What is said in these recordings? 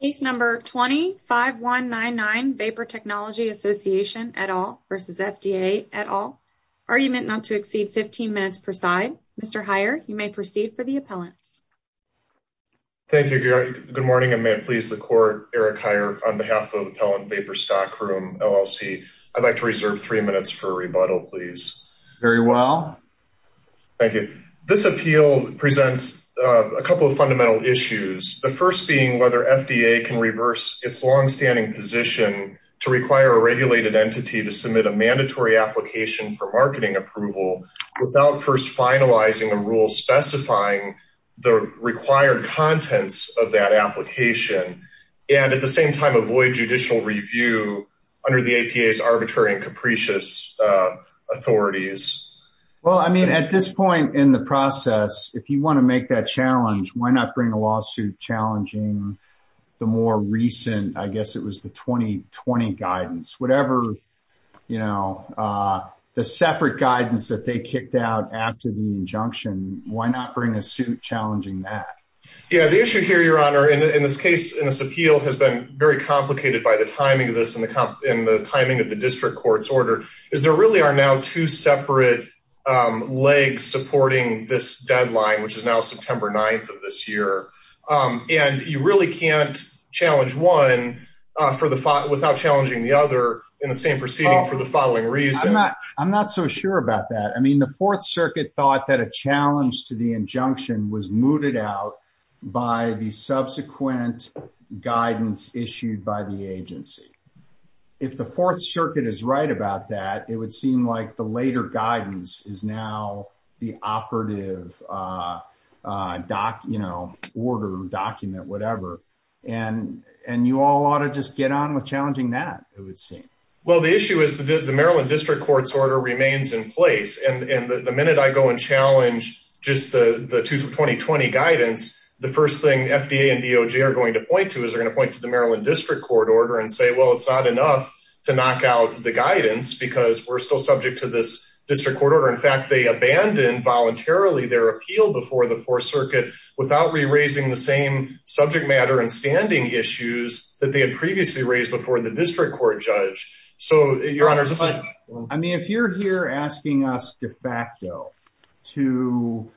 Case No. 20-5199, Vapor Technology Association, et al. v. FDA, et al. Argument not to exceed 15 minutes per side. Mr. Heyer, you may proceed for the appellant. Thank you, Gary. Good morning and may it please the Court, Eric Heyer on behalf of Appellant Vapor Stockroom, LLC. I'd like to reserve three minutes for a rebuttal, please. Very well. Thank you. This appeal presents a couple of fundamental issues. The first being whether FDA can reverse its long-standing position to require a regulated entity to submit a mandatory application for marketing approval without first finalizing a rule specifying the required contents of that application and at the same time avoid judicial review under the APA's arbitrary and capricious authorities. Well, I mean, at this point in the more recent, I guess it was the 2020 guidance, whatever, you know, the separate guidance that they kicked out after the injunction, why not bring a suit challenging that? Yeah, the issue here, Your Honor, in this case, in this appeal, has been very complicated by the timing of this and the timing of the district court's order is there really are now two separate legs supporting this deadline, which is now September 9th of this year. And you really can't challenge one without challenging the other in the same proceeding for the following reason. I'm not so sure about that. I mean, the Fourth Circuit thought that a challenge to the injunction was mooted out by the subsequent guidance issued by the agency. If the Fourth Circuit is right about that, it would seem like the later guidance is now the operative, you know, order, document, whatever. And you all ought to just get on with challenging that, it would seem. Well, the issue is that the Maryland District Court's order remains in place. And the minute I go and challenge just the 2020 guidance, the first thing FDA and DOJ are going to point to is they're going to point to the Maryland District Court order and say, well, it's not enough to knock out the guidance because we're still subject to this district court order. In fact, they abandoned voluntarily their appeal before the Fourth Circuit without re-raising the same subject matter and standing issues that they had previously raised before the district court judge. I mean, if you're here asking us de facto to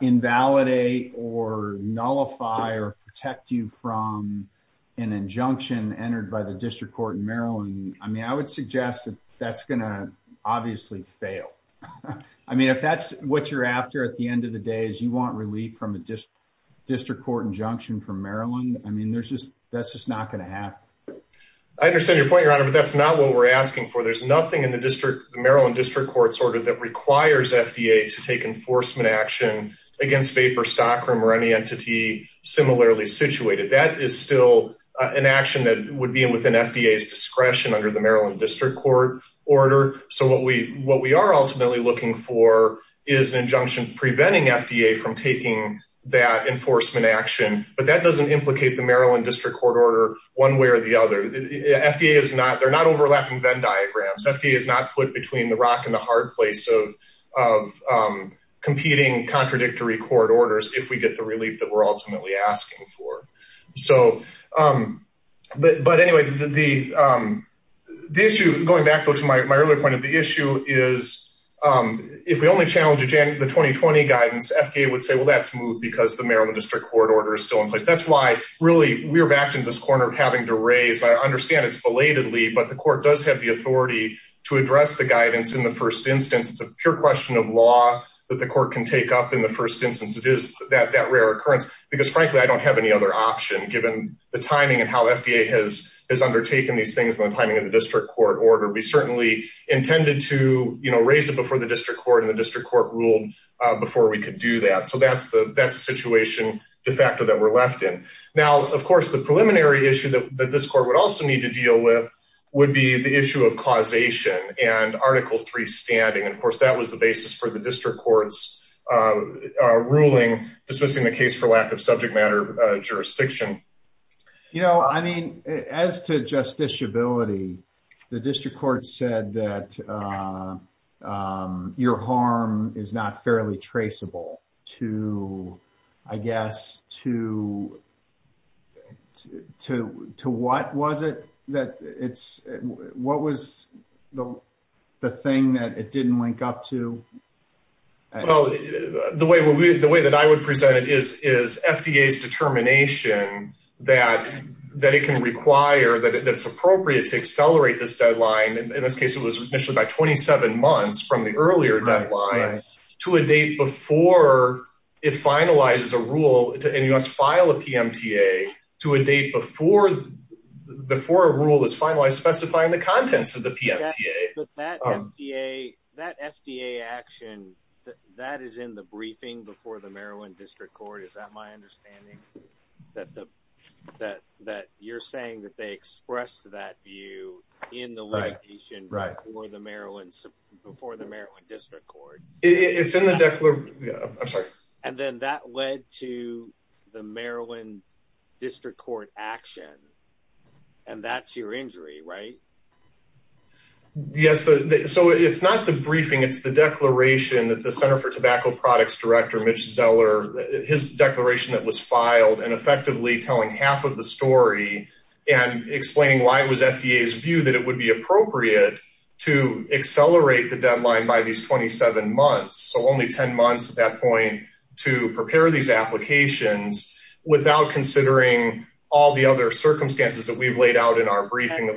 invalidate or nullify or protect you from an injunction entered by the district court in Maryland, I mean, I would suggest that that's going to obviously fail. I mean, if that's what you're after at the end of the day is you want relief from a district court injunction from Maryland, I mean, that's just not going to happen. I understand your point, Your Honor, but that's not what we're asking for. There's nothing in the Maryland District Court's order that requires FDA to take enforcement action against vapor stock or any entity similarly situated. That is still an action that would be within FDA's discretion under the Maryland District Court order. So what we are ultimately looking for is an injunction preventing FDA from taking that enforcement action, but that doesn't implicate the Maryland District Court order one way or the other. They're not overlapping Venn court orders if we get the relief that we're ultimately asking for. But anyway, going back to my earlier point, the issue is if we only challenge the 2020 guidance, FDA would say, well, that's moved because the Maryland District Court order is still in place. That's why really we're back in this corner of having to raise. I understand it's belatedly, but the court does have the authority to address the guidance in the first instance. It's a pure law that the court can take up in the first instance. It is that rare occurrence because frankly, I don't have any other option given the timing and how FDA has undertaken these things in the timing of the district court order. We certainly intended to raise it before the district court and the district court ruled before we could do that. So that's the best situation de facto that we're left in. Now, of course, the preliminary issue that this court would also need to deal with would be the issue of causation and article three standing. And of the district court's ruling dismissing the case for lack of subject matter jurisdiction. You know, I mean, as to justiciability, the district court said that your harm is not fairly traceable to, I guess, to what was the thing that it didn't link up to? Well, the way that I would present it is FDA's determination that it can require, that it's appropriate to accelerate this deadline. In this case, it was initially by 27 months from the earlier deadline to a date before it finalizes a rule to NUS file a PMTA to a date before a rule is finalized specifying the contents of the PMTA. But that FDA action, that is in the briefing before the Maryland district court. Is that my understanding? That you're saying that they expressed that view in the limitation before the Maryland district court. And then that led to Maryland district court action. And that's your injury, right? Yes. So it's not the briefing. It's the declaration that the center for tobacco products director, Mitch Zeller, his declaration that was filed and effectively telling half of the story and explaining why it was FDA's view that it would be appropriate to accelerate the without considering all the other circumstances that we've laid out in our briefing.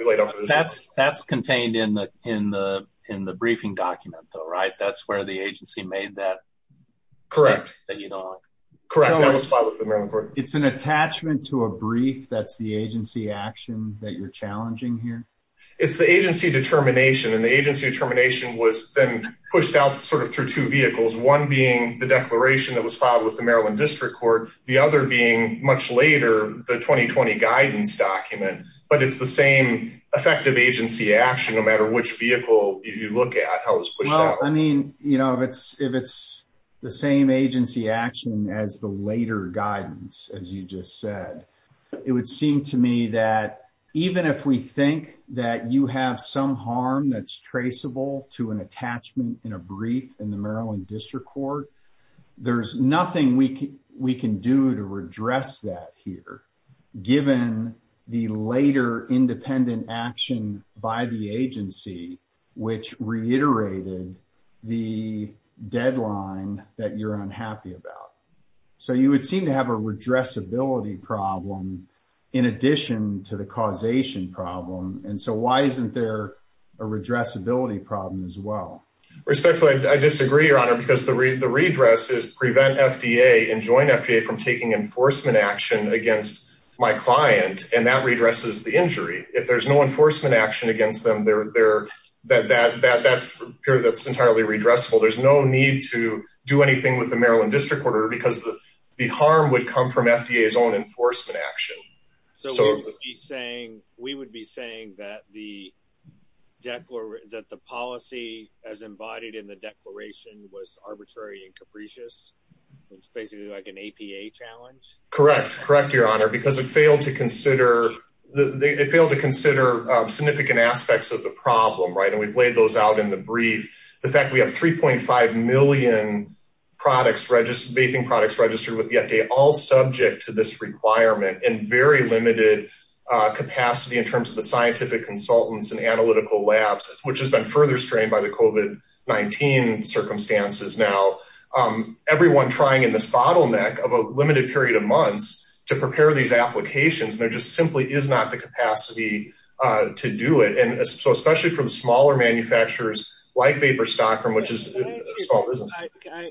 That's contained in the briefing document though, right? That's where the agency made that. Correct. Correct. That was filed with the Maryland court. It's an attachment to a brief. That's the agency action that you're challenging here. It's the agency determination and the agency determination was then pushed out sort of through two vehicles. One being the declaration that was filed with the Maryland district court. The other being much later, the 2020 guidance document, but it's the same effective agency action, no matter which vehicle you look at, how it was pushed out. I mean, if it's the same agency action as the later guidance, as you just said, it would seem to me that even if we think that you have some harm that's traceable to an attachment in a brief in the Maryland district court, there's nothing we can do to redress that here, given the later independent action by the agency, which reiterated the deadline that you're unhappy about. So you would seem to have a redressability problem in addition to the causation problem. And so why isn't there a redressability problem as well? Respectfully, I disagree your honor, because the redress is prevent FDA and join FDA from taking enforcement action against my client. And that redresses the injury. If there's no enforcement action against them, that's entirely redressable. There's no need to do anything with the Maryland district order because the harm would come from FDA's own enforcement action. So we would be saying that the policy as embodied in the declaration was arbitrary and capricious. It's basically like an APA challenge. Correct. Correct. Your honor, because it failed to consider significant aspects of the problem, right? And we've laid those out in the brief. The fact we have 3.5 million vaping products all subject to this requirement and very limited capacity in terms of the scientific consultants and analytical labs, which has been further strained by the COVID-19 circumstances. Now, everyone trying in this bottleneck of a limited period of months to prepare these applications, there just simply is not the capacity to do it. And so, especially from smaller manufacturers like VaporStock, which is a small business.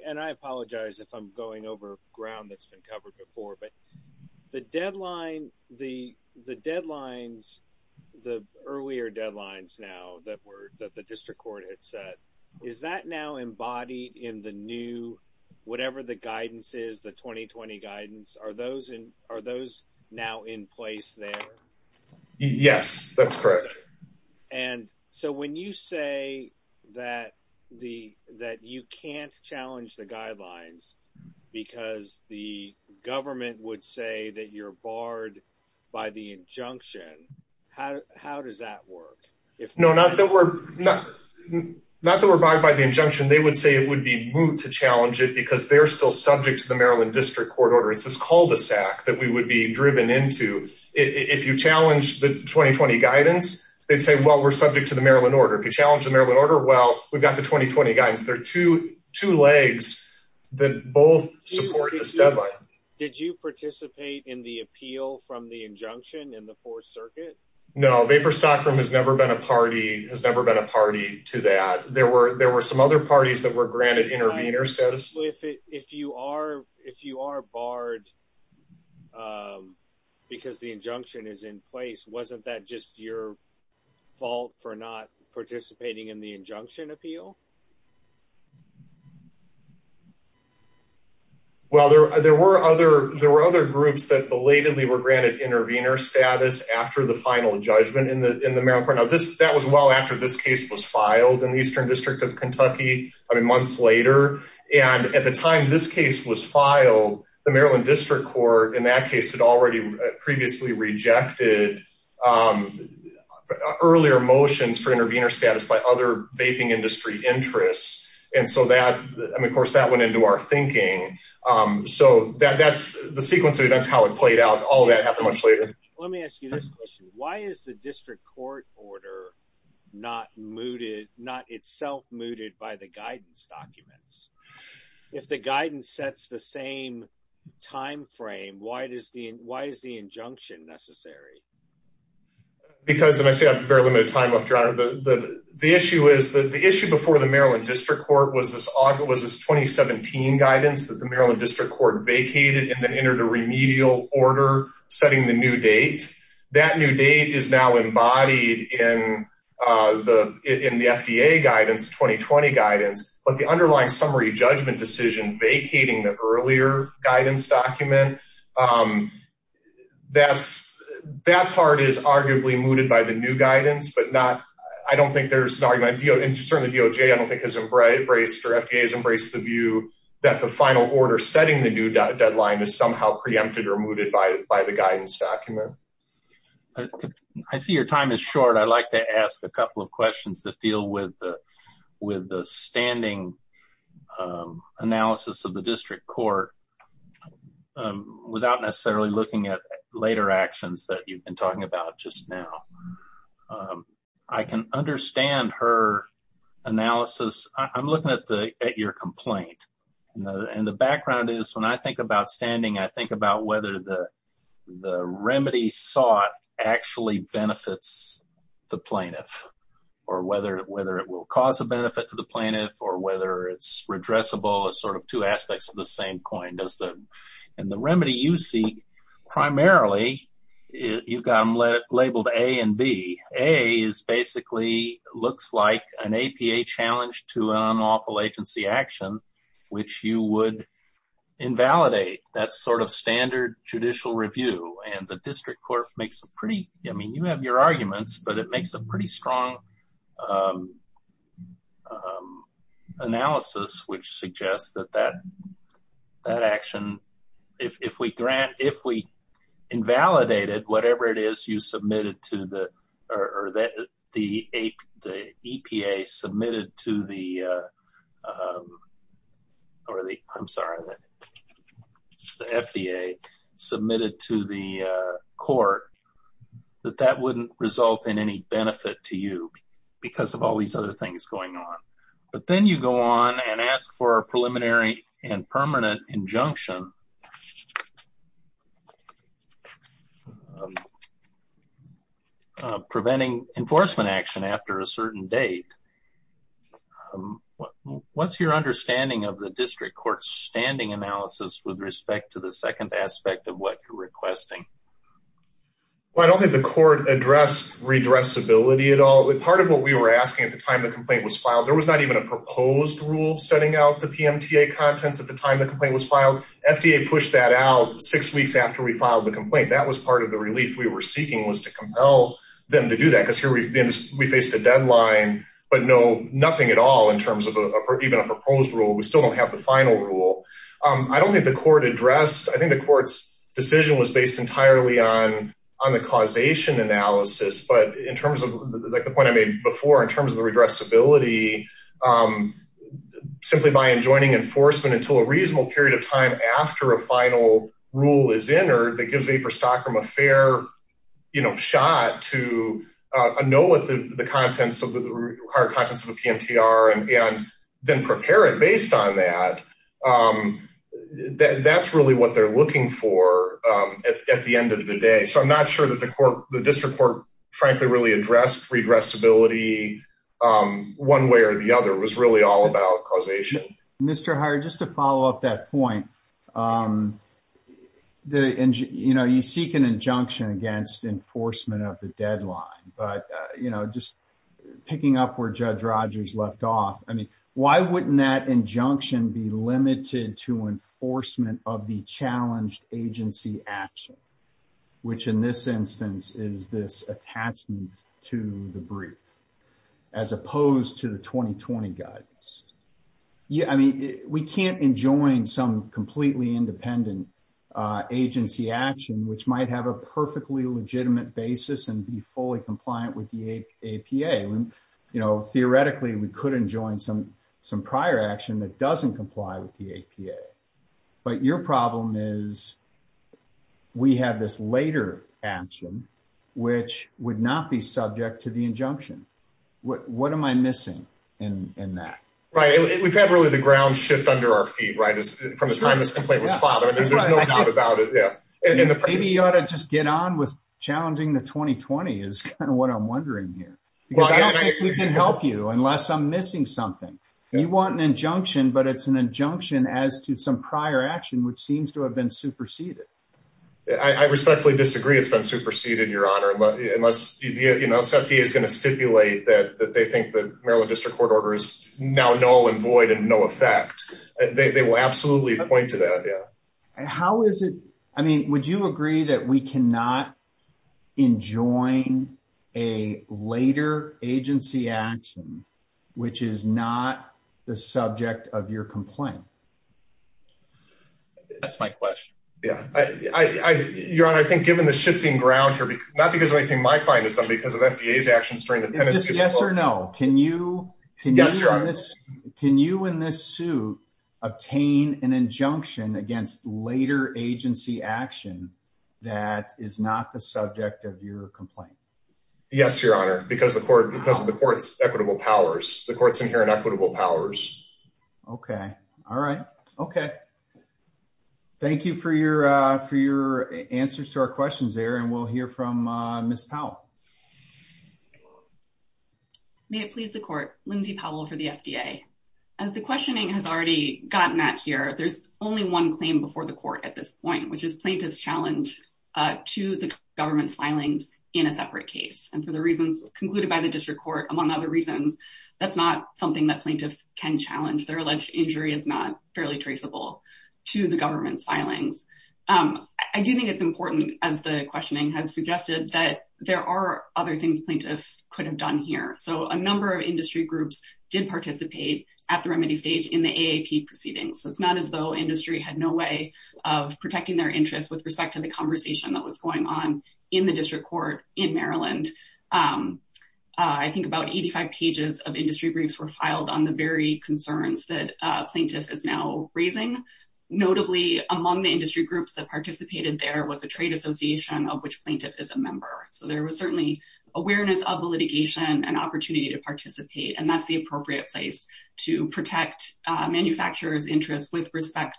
And I apologize if I'm going over ground that's been covered before, but the deadlines, the earlier deadlines now that the district court had set, is that now embodied in the new, whatever the guidance is, the 2020 guidance, are those now in place there? Yes, that's correct. And so, when you say that you can't challenge the guidelines because the government would say that you're barred by the injunction, how does that work? No, not that we're barred by the injunction. They would say it would be moot to challenge it because they're still subject to the Maryland District Court order. It's this cul-de-sac that we would be driven into. If you challenge the 2020 guidance, they'd say, well, we're subject to the Maryland order. If you challenge the Maryland order, well, we've got the 2020 guidance. There are two legs that both support the deadline. Did you participate in the appeal from the injunction in the fourth circuit? No, VaporStock has never been a party to that. There were some other parties that were granted intervener status. If you are barred because the injunction is in place, wasn't that just your fault for not participating in the injunction appeal? Well, there were other groups that belatedly were granted intervener status after the final judgment in the Maryland court. Now, that was well after this case was filed in the Eastern and at the time this case was filed, the Maryland District Court in that case had already previously rejected earlier motions for intervener status by other vaping industry interests. Of course, that went into our thinking. That's the sequence of events, how it played out. All of that happened much later. Let me ask you this question. Why is the If the guidance sets the same time frame, why is the injunction necessary? Because the issue before the Maryland District Court was this 2017 guidance that the Maryland District Court vacated and then entered a remedial order setting the new date. That new date is now decision vacating the earlier guidance document. That part is arguably mooted by the new guidance, but I don't think there's an argument. Certainly, DOJ has embraced or FDA has embraced the view that the final order setting the new deadline is somehow preempted or mooted by the guidance document. I see your time is short. I'd like to ask a couple of questions that deal with the standing analysis of the District Court without necessarily looking at later actions that you've been talking about just now. I can understand her analysis. I'm looking at your complaint. The background is when I think about standing, I think about whether the remedy sought actually benefits the plaintiff or whether it will cause a benefit to the plaintiff or whether it's redressable as sort of two aspects of the same coin. The remedy you seek primarily, you've got them labeled A and B. A basically looks like an APA challenge to an unlawful agency action, which you would invalidate. That's sort of standard judicial review. The District Court makes a pretty, I mean, you have your arguments, but it makes a pretty strong analysis, which suggests that that action, if we invalidate it, whatever it is you submitted to the APA, the EPA submitted to the, or the, I'm sorry, the FDA submitted to the court, that that wouldn't result in any benefit to you because of all these other things going on. But then you go on and ask for a preliminary and permanent injunction on preventing enforcement action after a certain date. What's your understanding of the District Court's standing analysis with respect to the second aspect of what you're requesting? Well, I don't think the court addressed redressability at all. Part of what we were asking at the time the complaint was filed, there was not even a push that out six weeks after we filed the complaint. That was part of the relief we were seeking was to compel them to do that because here we faced a deadline, but no, nothing at all in terms of even a proposed rule. We still don't have the final rule. I don't think the court addressed, I think the court's decision was based entirely on the causation analysis, but in terms of like the point I made before, in terms of the redressability, um, simply by enjoining enforcement until a reasonable period of time after a final rule is entered that gives Vapor Stockroom a fair, you know, shot to know what the, the contents of the hard contents of the PMTR and then prepare it based on that. That's really what they're looking for at the end of the day. So I'm not sure that the court, the district court frankly really addressed redressability, um, one way or the other was really all about causation. Mr. Hire, just to follow up that point, um, the, you know, you seek an injunction against enforcement of the deadline, but, uh, you know, just picking up where judge Rogers left off. I mean, why wouldn't that injunction be limited to enforcement of the attachment to the brief as opposed to the 2020 guidance? Yeah. I mean, we can't enjoin some completely independent, uh, agency action, which might have a perfectly legitimate basis and be fully compliant with the APA. You know, theoretically we could enjoy some, some prior action that doesn't comply with the APA, but your problem is we have this later action which would not be subject to the injunction. What, what am I missing in, in that? Right. We've had really the ground shift under our feet, right. From the time this complaint was filed. Maybe you ought to just get on with challenging the 2020 is kind of what I'm wondering here. Because I don't think we can help you unless I'm missing something. You want an injunction, but it's an injunction as to some prior action, which seems to have been superseded. I respectfully disagree. It's been superseded your honor, but unless, you know, safety is going to stipulate that, that they think that Maryland district court order is now null and void and no effect, they will absolutely point to that. Yeah. How is it? I mean, would you agree that we cannot enjoin a later agency action, which is not the subject of your complaint? That's my question. Yeah. I, I, your honor, I think given the shifting ground here, not because of anything my client has done because of FDA's actions during the penalty. Yes or no. Can you, can you, can you in this suit obtain an injunction against later agency action that is not the subject of your complaint? Yes, your honor. Because the court, because of the court's equitable powers, the court's inherent equitable powers. Okay. All right. Okay. Thank you for your, for your answers to our questions there. And we'll hear from Ms. Powell. May it please the court, Lindsay Powell for the FDA. As the questioning has already gotten at here, there's only one claim before the court at this point, which is plaintiff's challenge to the government's filings in a separate case. And for the reasons concluded by the district court, among other reasons, that's not something that plaintiffs can challenge. Their alleged injury is not fairly traceable to the government's filings. I do think it's important as the questioning has suggested that there are other things plaintiffs could have done here. So a number of industry groups did participate at the remedy stage in the AAP proceedings. So it's not as though industry had no way of protecting their interests with respect to the conversation that was going on in the district court in Maryland. I think about 85 pages of industry briefs were filed on the very concerns that a plaintiff is now raising. Notably among the industry groups that participated there was a trade association of which plaintiff is a member. So there was certainly awareness of the litigation and opportunity to participate. And that's the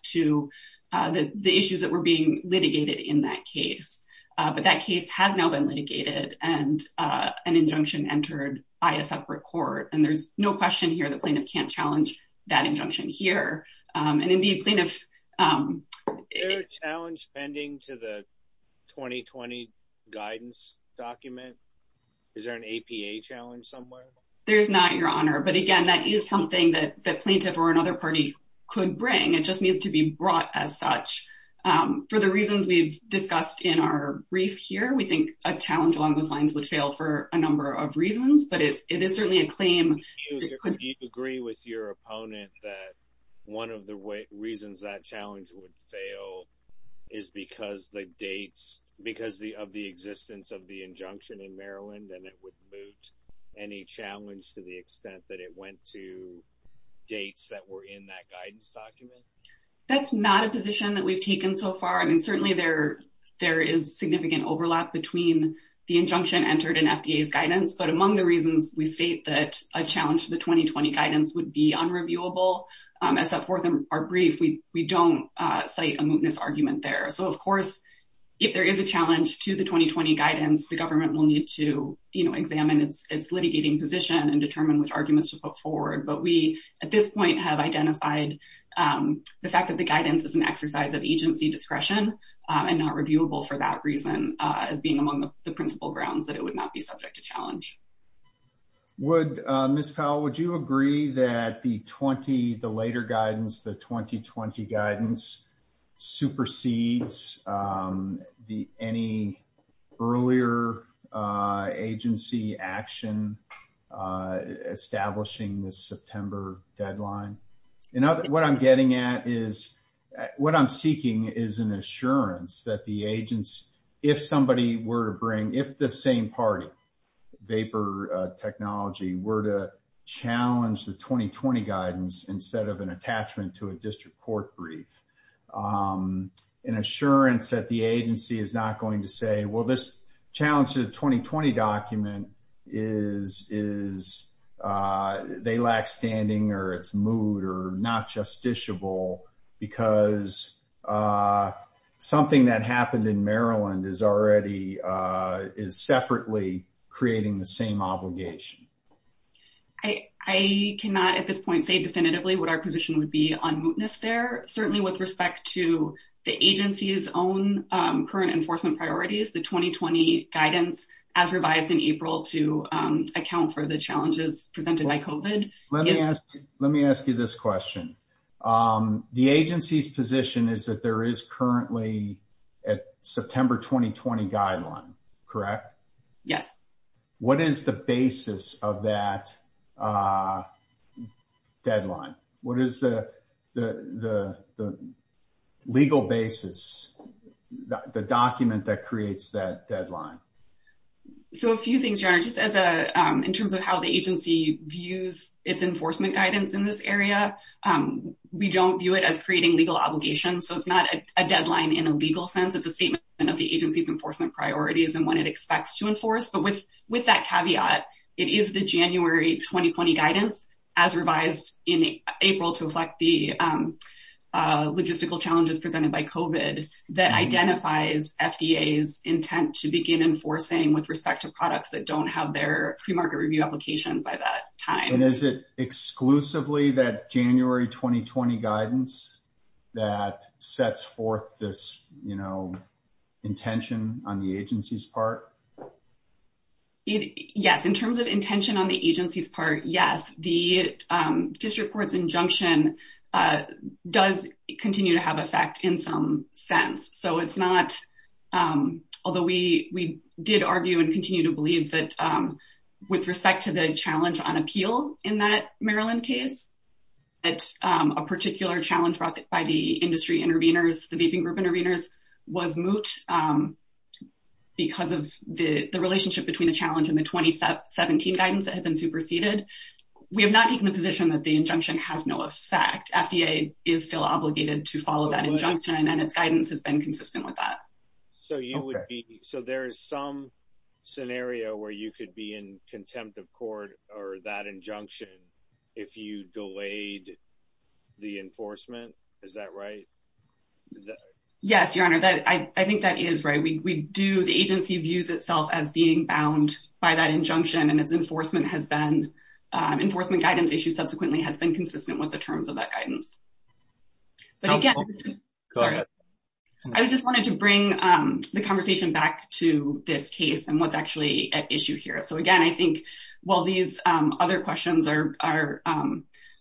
to the issues that were being litigated in that case. But that case has now been litigated and an injunction entered by a separate court. And there's no question here that plaintiff can't challenge that injunction here. And indeed plaintiff... Is there a challenge pending to the 2020 guidance document? Is there an APA challenge somewhere? There's not, Your Honor. But again, that is something that plaintiff or another party could bring. It just needs to be brought as such. For the reasons we've discussed in our brief here, we think a challenge along those lines would fail for a number of reasons. But it is certainly a claim... Do you agree with your opponent that one of the reasons that challenge would fail is because of the existence of the injunction in Maryland and it would moot any challenge to the extent that it went to dates that were in that guidance document? That's not a position that we've taken so far. I mean, certainly there is significant overlap between the injunction entered in FDA's guidance. But among the reasons we state that a challenge to the 2020 guidance would be unreviewable, as set forth in our brief, we don't cite a mootness argument there. So of course, if there is a challenge to the 2020 guidance, the government will need to examine its litigating position and determine which arguments to put forward. But we, at this point, have identified the fact that the guidance is an exercise of agency discretion and not reviewable for that reason as being among the principal grounds that it would not be subject to challenge. Ms. Powell, would you agree that the later guidance, the 2020 guidance, supersedes any earlier agency action establishing this September deadline? What I'm getting at is, what I'm seeking is an assurance that the agents, if somebody were to bring, if the same party, Vapor Technology, were to challenge the 2020 guidance instead of an assurance that the agency is not going to say, well, this challenge to the 2020 document is, they lack standing or it's moot or not justiciable because something that happened in Maryland is already, is separately creating the same obligation. I cannot, at this point, say definitively what our position would be on mootness there. Certainly with respect to the agency's own current enforcement priorities, the 2020 guidance as revised in April to account for the challenges presented by COVID. Let me ask you, let me ask you this question. The agency's position is that there is currently a September 2020 guideline, correct? Yes. What is the basis of that deadline? What is the legal basis, the document that creates that deadline? A few things, John. In terms of how the agency views its enforcement guidance in this area, we don't view it as creating legal obligations, so it's not a deadline in a legal sense. It's a statement of the agency's enforcement priorities and what it expects to enforce. With that caveat, it is the January 2020 guidance, as revised in April to reflect the logistical challenges presented by COVID, that identifies FDA's intent to begin enforcing with respect to products that don't have their pre-market review applications by that time. Is it exclusively that January 2020 guidance that sets forth this intention on the agency's part? Yes. In terms of intention on the agency's part, yes. The district court's injunction does continue to have effect in some sense. Although we did argue and continue to believe with respect to the challenge on appeal in that Maryland case, that a particular challenge brought by the industry intervenors, the vaping group intervenors, was moot because of the relationship between the challenge and the 2017 guidance that had been superseded. We have not taken the position that the injunction has no effect. FDA is still obligated to follow that injunction, and its guidance has been consistent with that. So there is some scenario where you could be in contempt of court or that injunction if you delayed the enforcement? Is that right? Yes, Your Honor. I think that is right. The agency views itself as being bound by that injunction, and its enforcement guidance issue subsequently has been consistent with the terms of that guidance. I just wanted to bring the conversation back to this case and what is actually at issue here. Again, I think while these other questions are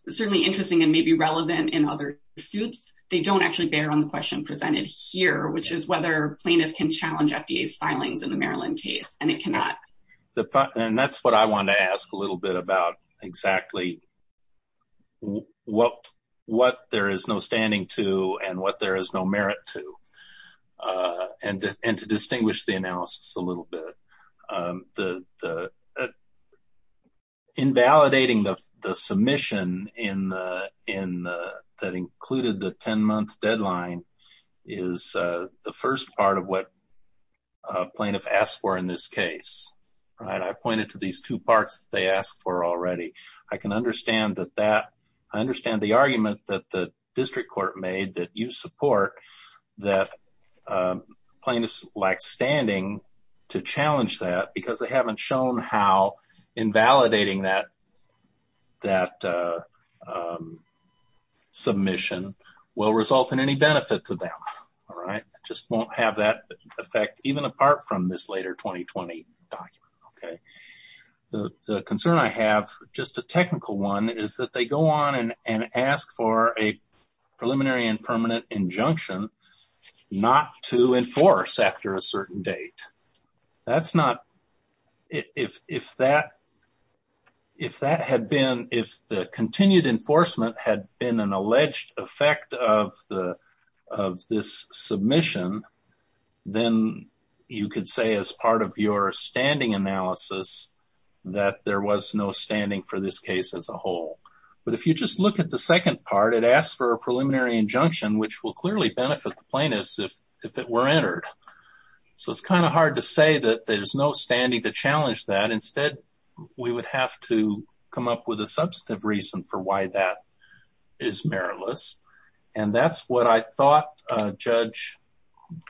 certainly interesting and maybe relevant in other suits, they don't actually bear on the question presented here, which is whether plaintiffs can challenge FDA's filings in the Maryland case, and it cannot. That is what I wanted to ask a little bit about exactly what there is no standing to and what there is no merit to, and to distinguish the analysis a little bit. Invalidating the submission that included the 10-month deadline is the first part of what I pointed to these two parts that they asked for already. I can understand the argument that the district court made that you support that plaintiffs lack standing to challenge that because they have not shown how invalidating that submission will result in any benefit to them. It just won't have that effect, even apart from this later 2020 document. The concern I have, just a technical one, is that they go on and ask for a preliminary and permanent injunction not to enforce after a certain date. If the continued enforcement had been an alleged effect of this submission, then you could say as part of your standing analysis that there was no standing for this case as a whole. If you just look at the second part, it asks for a preliminary injunction, which will clearly benefit the plaintiffs if it were entered. It is hard to say that there is no standing to challenge that. Instead, we would have to come up with a substantive reason for why that is meritless. That is what I thought Judge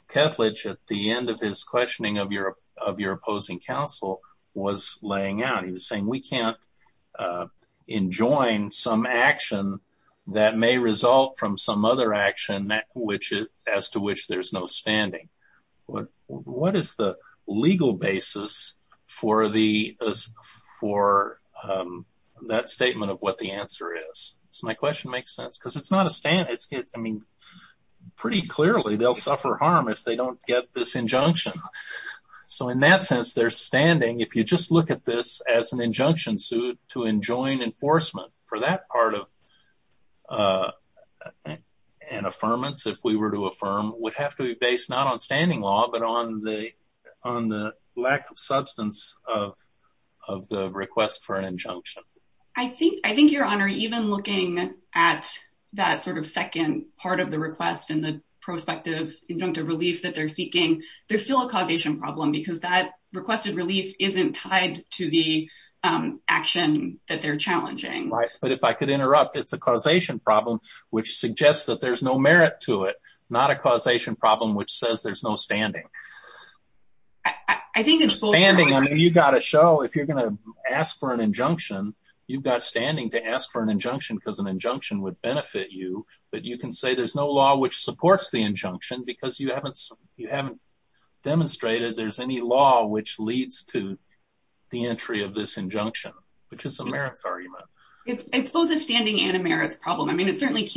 Kethledge, at the end of his questioning of your opposing counsel, was laying out. He was saying we cannot enjoin some action that may result from some other action as to which there is no standing. My question makes sense. Pretty clearly, they will suffer harm if they do not get this injunction. In that sense, if you just look at this as an injunction suit to enjoin enforcement, for that part of an affirmance, if we were to affirm, it would have to be based not on standing law, but on the lack of substance of the request for an injunction. Even looking at that second part of the request and the prospective injunctive relief that they are seeking, there is still a causation problem because that requested relief is not tied to the action that they are challenging. If I could interrupt, it is a causation problem which suggests that there is no merit to it, not a causation problem which says there is no standing. You have to show if you are going to ask for an injunction, you have standing to ask for an injunction because an injunction would benefit you, but you can say there is no law which supports the injunction because you have not demonstrated there is any law which leads to the entry of this injunction, which is a merits argument. It is both a standing and a merits problem. It certainly is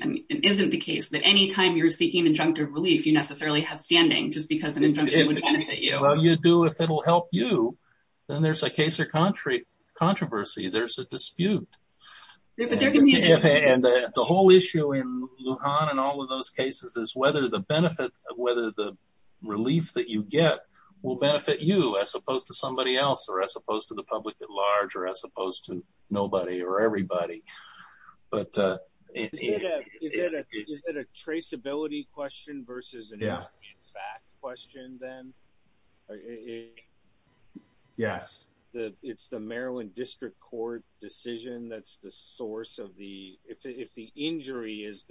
not the case that any time you are seeking injunctive relief, you necessarily have standing just because an injunction would benefit you. If it will help you, then there is a case or controversy. There is a dispute. The whole issue in Lujan and all of those cases is whether the relief that you get will benefit you as opposed to somebody else or as opposed to the public at hand. Is it a traceability question versus an injury in fact question then? Yes. It is the Maryland District Court decision that is the source of the, if the injury is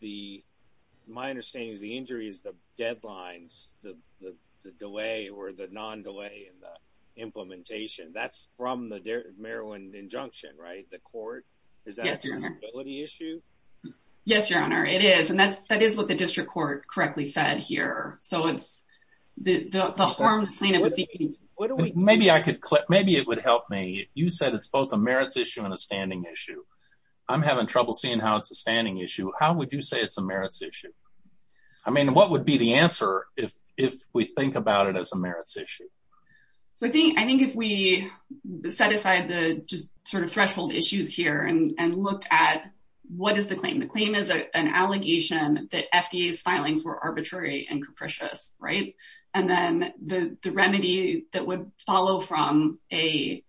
the, my understanding is the injury is the deadlines, the delay or the non-delay in the issue. Yes, Your Honor. It is. That is what the District Court correctly said here. Maybe it would help me. You said it is both a merits issue and a standing issue. I am having trouble seeing how it is a standing issue. How would you say it is a merits issue? What would be the answer if we think about it as a merits issue? I think if we set aside the threshold issues here and looked at what is the claim. The claim is an allegation that FDA's filings were arbitrary and capricious. Then the remedy that would follow from a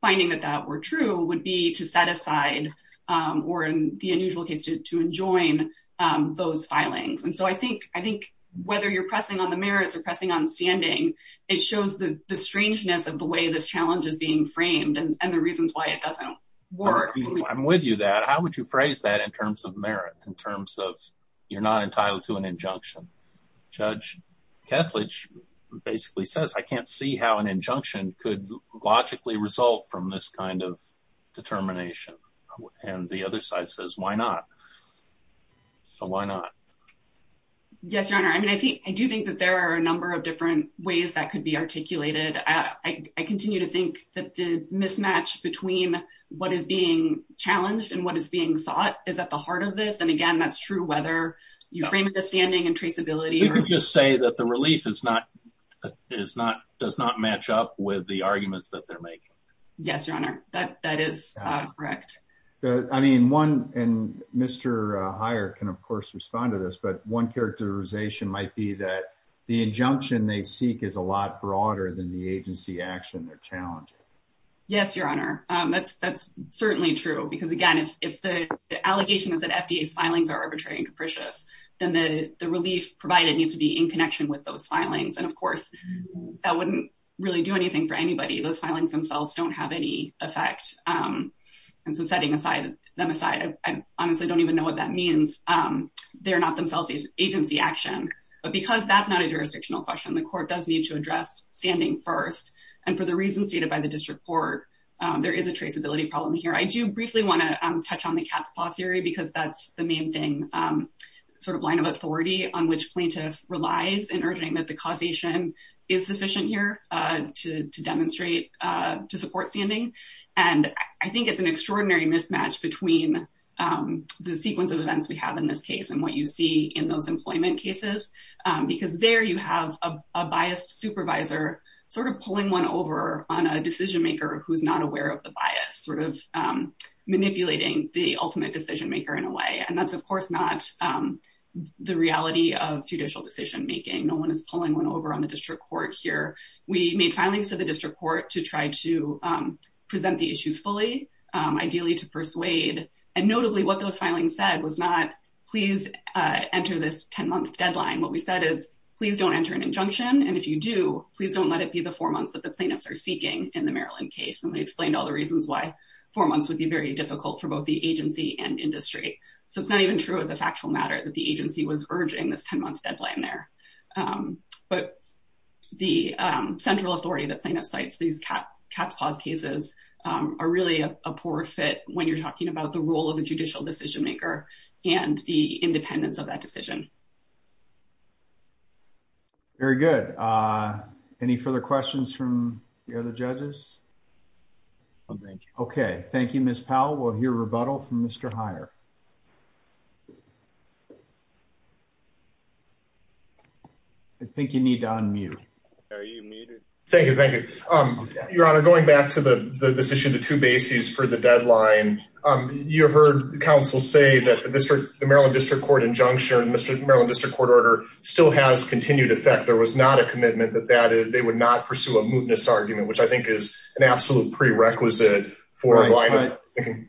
finding that that were true would be to set aside or in the unusual case to enjoin those filings. I think whether you are pressing on the merits or pressing on standing, it shows the strangeness of the way this challenge is being framed and the reasons why it does not work. I am with you on that. How would you phrase that in terms of merits? In terms of you are not entitled to an injunction? Judge Kethledge basically says I cannot see how an injunction could logically result from this kind of determination. The other side says why not? So why not? Yes, Your Honor. I do think that there are a number of different that could be articulated. I continue to think that the mismatch between what is being challenged and what is being sought is at the heart of this. Again, that is true whether you frame it as standing and traceability. You could just say that the relief does not match up with the arguments that they are making. Yes, Your Honor. That is correct. Mr. Heyer can of course respond to this, but one characterization might be that the injunction they seek is a lot broader than the agency action they are challenging. Yes, Your Honor. That is certainly true. Again, if the allegation is that FDA's filings are arbitrary and capricious, then the relief provided needs to be in connection with those filings. Of course, that would not really do anything for anybody. Those filings themselves do not have any effect. Setting them aside, I honestly do not even know what that means. They are not themselves agency action, but because that is not a jurisdictional question, the court does need to address standing first. For the reasons stated by the district court, there is a traceability problem here. I do briefly want to touch on the cat's paw theory because that is the main thing, sort of line of authority on which plaintiff relies in urging that the causation is sufficient to support standing. I think it is an extraordinary mismatch between the sequence of events we have in this case and what you see in those employment cases. There you have a biased supervisor pulling one over on a decision maker who is not aware of the bias, sort of manipulating the ultimate decision maker in a way. That is of course not the reality of judicial decision making. No one is pulling one over on the district court here. We made filings to the district court to try to present the issues fully, ideally to persuade. Notably, what those filings said was not, please enter this 10-month deadline. What we said is, please do not enter an injunction. If you do, please do not let it be the four months that the plaintiffs are seeking in the Maryland case. We explained all the reasons why four months would be very difficult for both the agency and industry. It is not even true as a factual matter that the agency was urging this 10-month deadline there. But the central authority that plaintiff cites, these cat's paws cases, are really a poor fit when you are talking about the role of the judicial decision maker and the independence of that decision. Very good. Any further questions from the other judges? Okay. Thank you, Ms. Powell. We will hear rebuttal from Mr. Heyer. I think you need to unmute. Are you muted? Thank you. Your Honor, going back to this issue of the two bases for the deadline, you heard counsel say that the Maryland district court injunction, the Maryland district court order still has continued effect. There was not a commitment that they would not pursue a mootness argument, which I think is an absolute prerequisite for a line of thinking.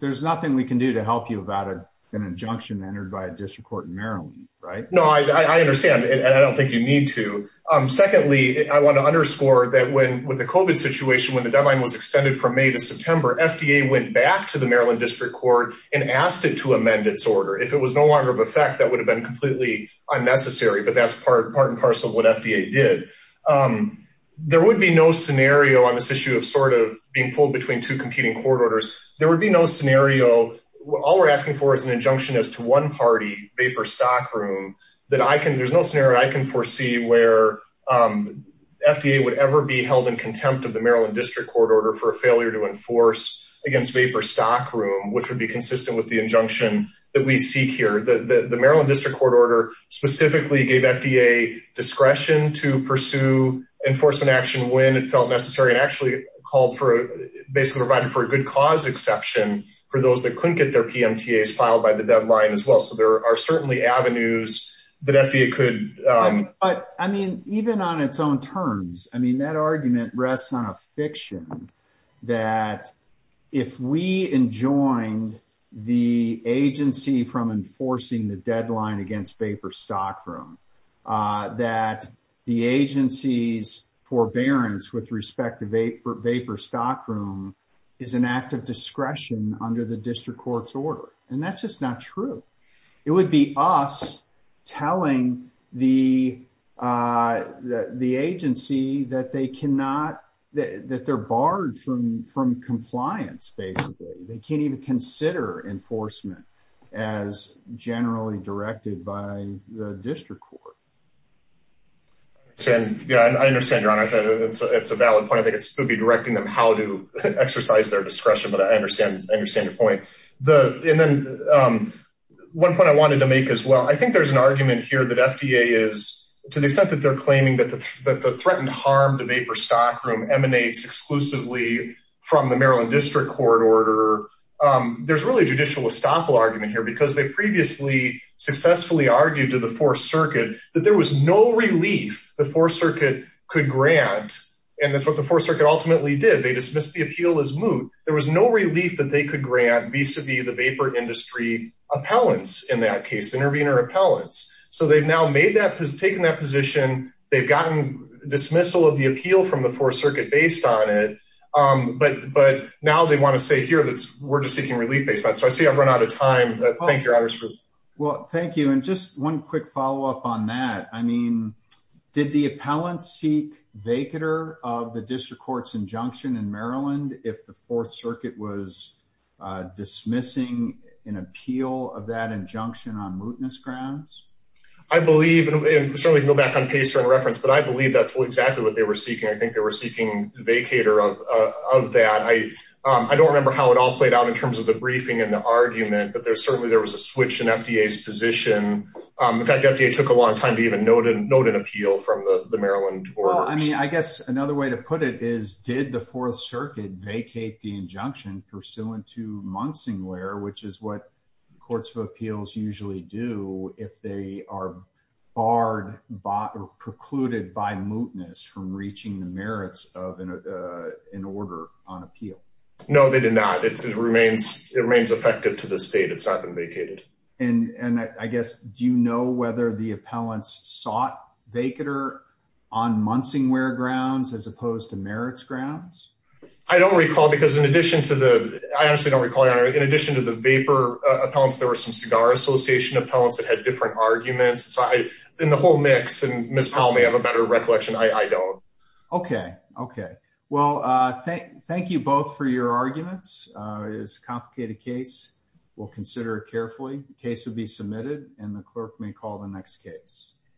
There is nothing we can do to help you about an injunction entered by a district court in Maryland, right? No, I understand. I don't think you need to. Secondly, I want to underscore that with the COVID situation, when the deadline was extended from May to September, FDA went back to the Maryland district court and asked it to amend its order. If it was no longer of effect, that would have been completely unnecessary, but that is part and parcel of what FDA did. There would be no scenario on this issue of being pulled between two competing court orders. There would be no scenario. All we're asking for is an injunction as to one party, Vapor Stock Room. There's no scenario I can foresee where FDA would ever be held in contempt of the Maryland district court order for a failure to enforce against Vapor Stock Room, which would be consistent with the injunction that we seek here. The Maryland district court order specifically gave FDA discretion to pursue enforcement action when it felt necessary and actually provided for a good cause exception for those that couldn't get their PMTAs filed by the deadline as well. There are certainly avenues that FDA could... Even on its own terms, that argument rests on a fiction that if we enjoined the agency from enforcing the deadline against Vapor Stock Room, that the agency's forbearance with respect to Vapor Stock Room is an act of discretion under the district court's order. That's just not true. It would be us telling the agency that they're barred from compliance, basically. They can't even consider enforcement as generally directed by the district court. Yeah, I understand, Your Honor. It's a valid point. I think it's going to be directing them how to exercise their discretion, but I understand your point. One point I wanted to make as well, I think there's an argument here that FDA is, to the extent that they're claiming that the threatened harm to Vapor Stock Room emanates exclusively from the Maryland district court order, there's really a judicial estoppel argument here because they previously successfully argued to the Fourth Circuit that there was no relief the Fourth Circuit could grant, and that's what the Fourth Circuit ultimately did. They dismissed the appeal as moot. There was no relief that they could grant vis-a-vis the Vapor industry appellants in that case, intervener appellants. So they've now taken that position. They've gotten dismissal of the appeal from the Fourth Circuit based on it, but now they want to say here that we're just seeking relief based on it. So I see I've run out of time, but thank you, Your Honor. Well, thank you, and just one quick follow-up on that. I mean, did the appellants seek vacater of the district court's injunction in Maryland if the Fourth Circuit was dismissing an appeal of that injunction on mootness grounds? I believe, and certainly go back on PACER in reference, but I believe that's exactly what they were seeking. I think they were seeking vacater of that. I don't remember how it all played out in terms of the briefing and the argument, but certainly there was a switch in FDA's position. In fact, FDA took a long time to even note an appeal from the Maryland orders. Well, I mean, I guess another way to put it is, did the Fourth Circuit vacate the injunction pursuant to Munsingware, which is courts of appeals usually do if they are barred or precluded by mootness from reaching the merits of an order on appeal? No, they did not. It remains effective to the state. It's not been vacated. And I guess, do you know whether the appellants sought vacater on Munsingware grounds as opposed to merits grounds? I don't recall because in addition to the, I honestly don't recall, in addition to the vapor appellants, there were some cigar association appellants that had different arguments. So in the whole mix, and Ms. Powell may have a better recollection, I don't. Okay. Okay. Well, thank you both for your arguments. It is a complicated case. We'll consider it carefully. The case will be submitted and the clerk may call the next case.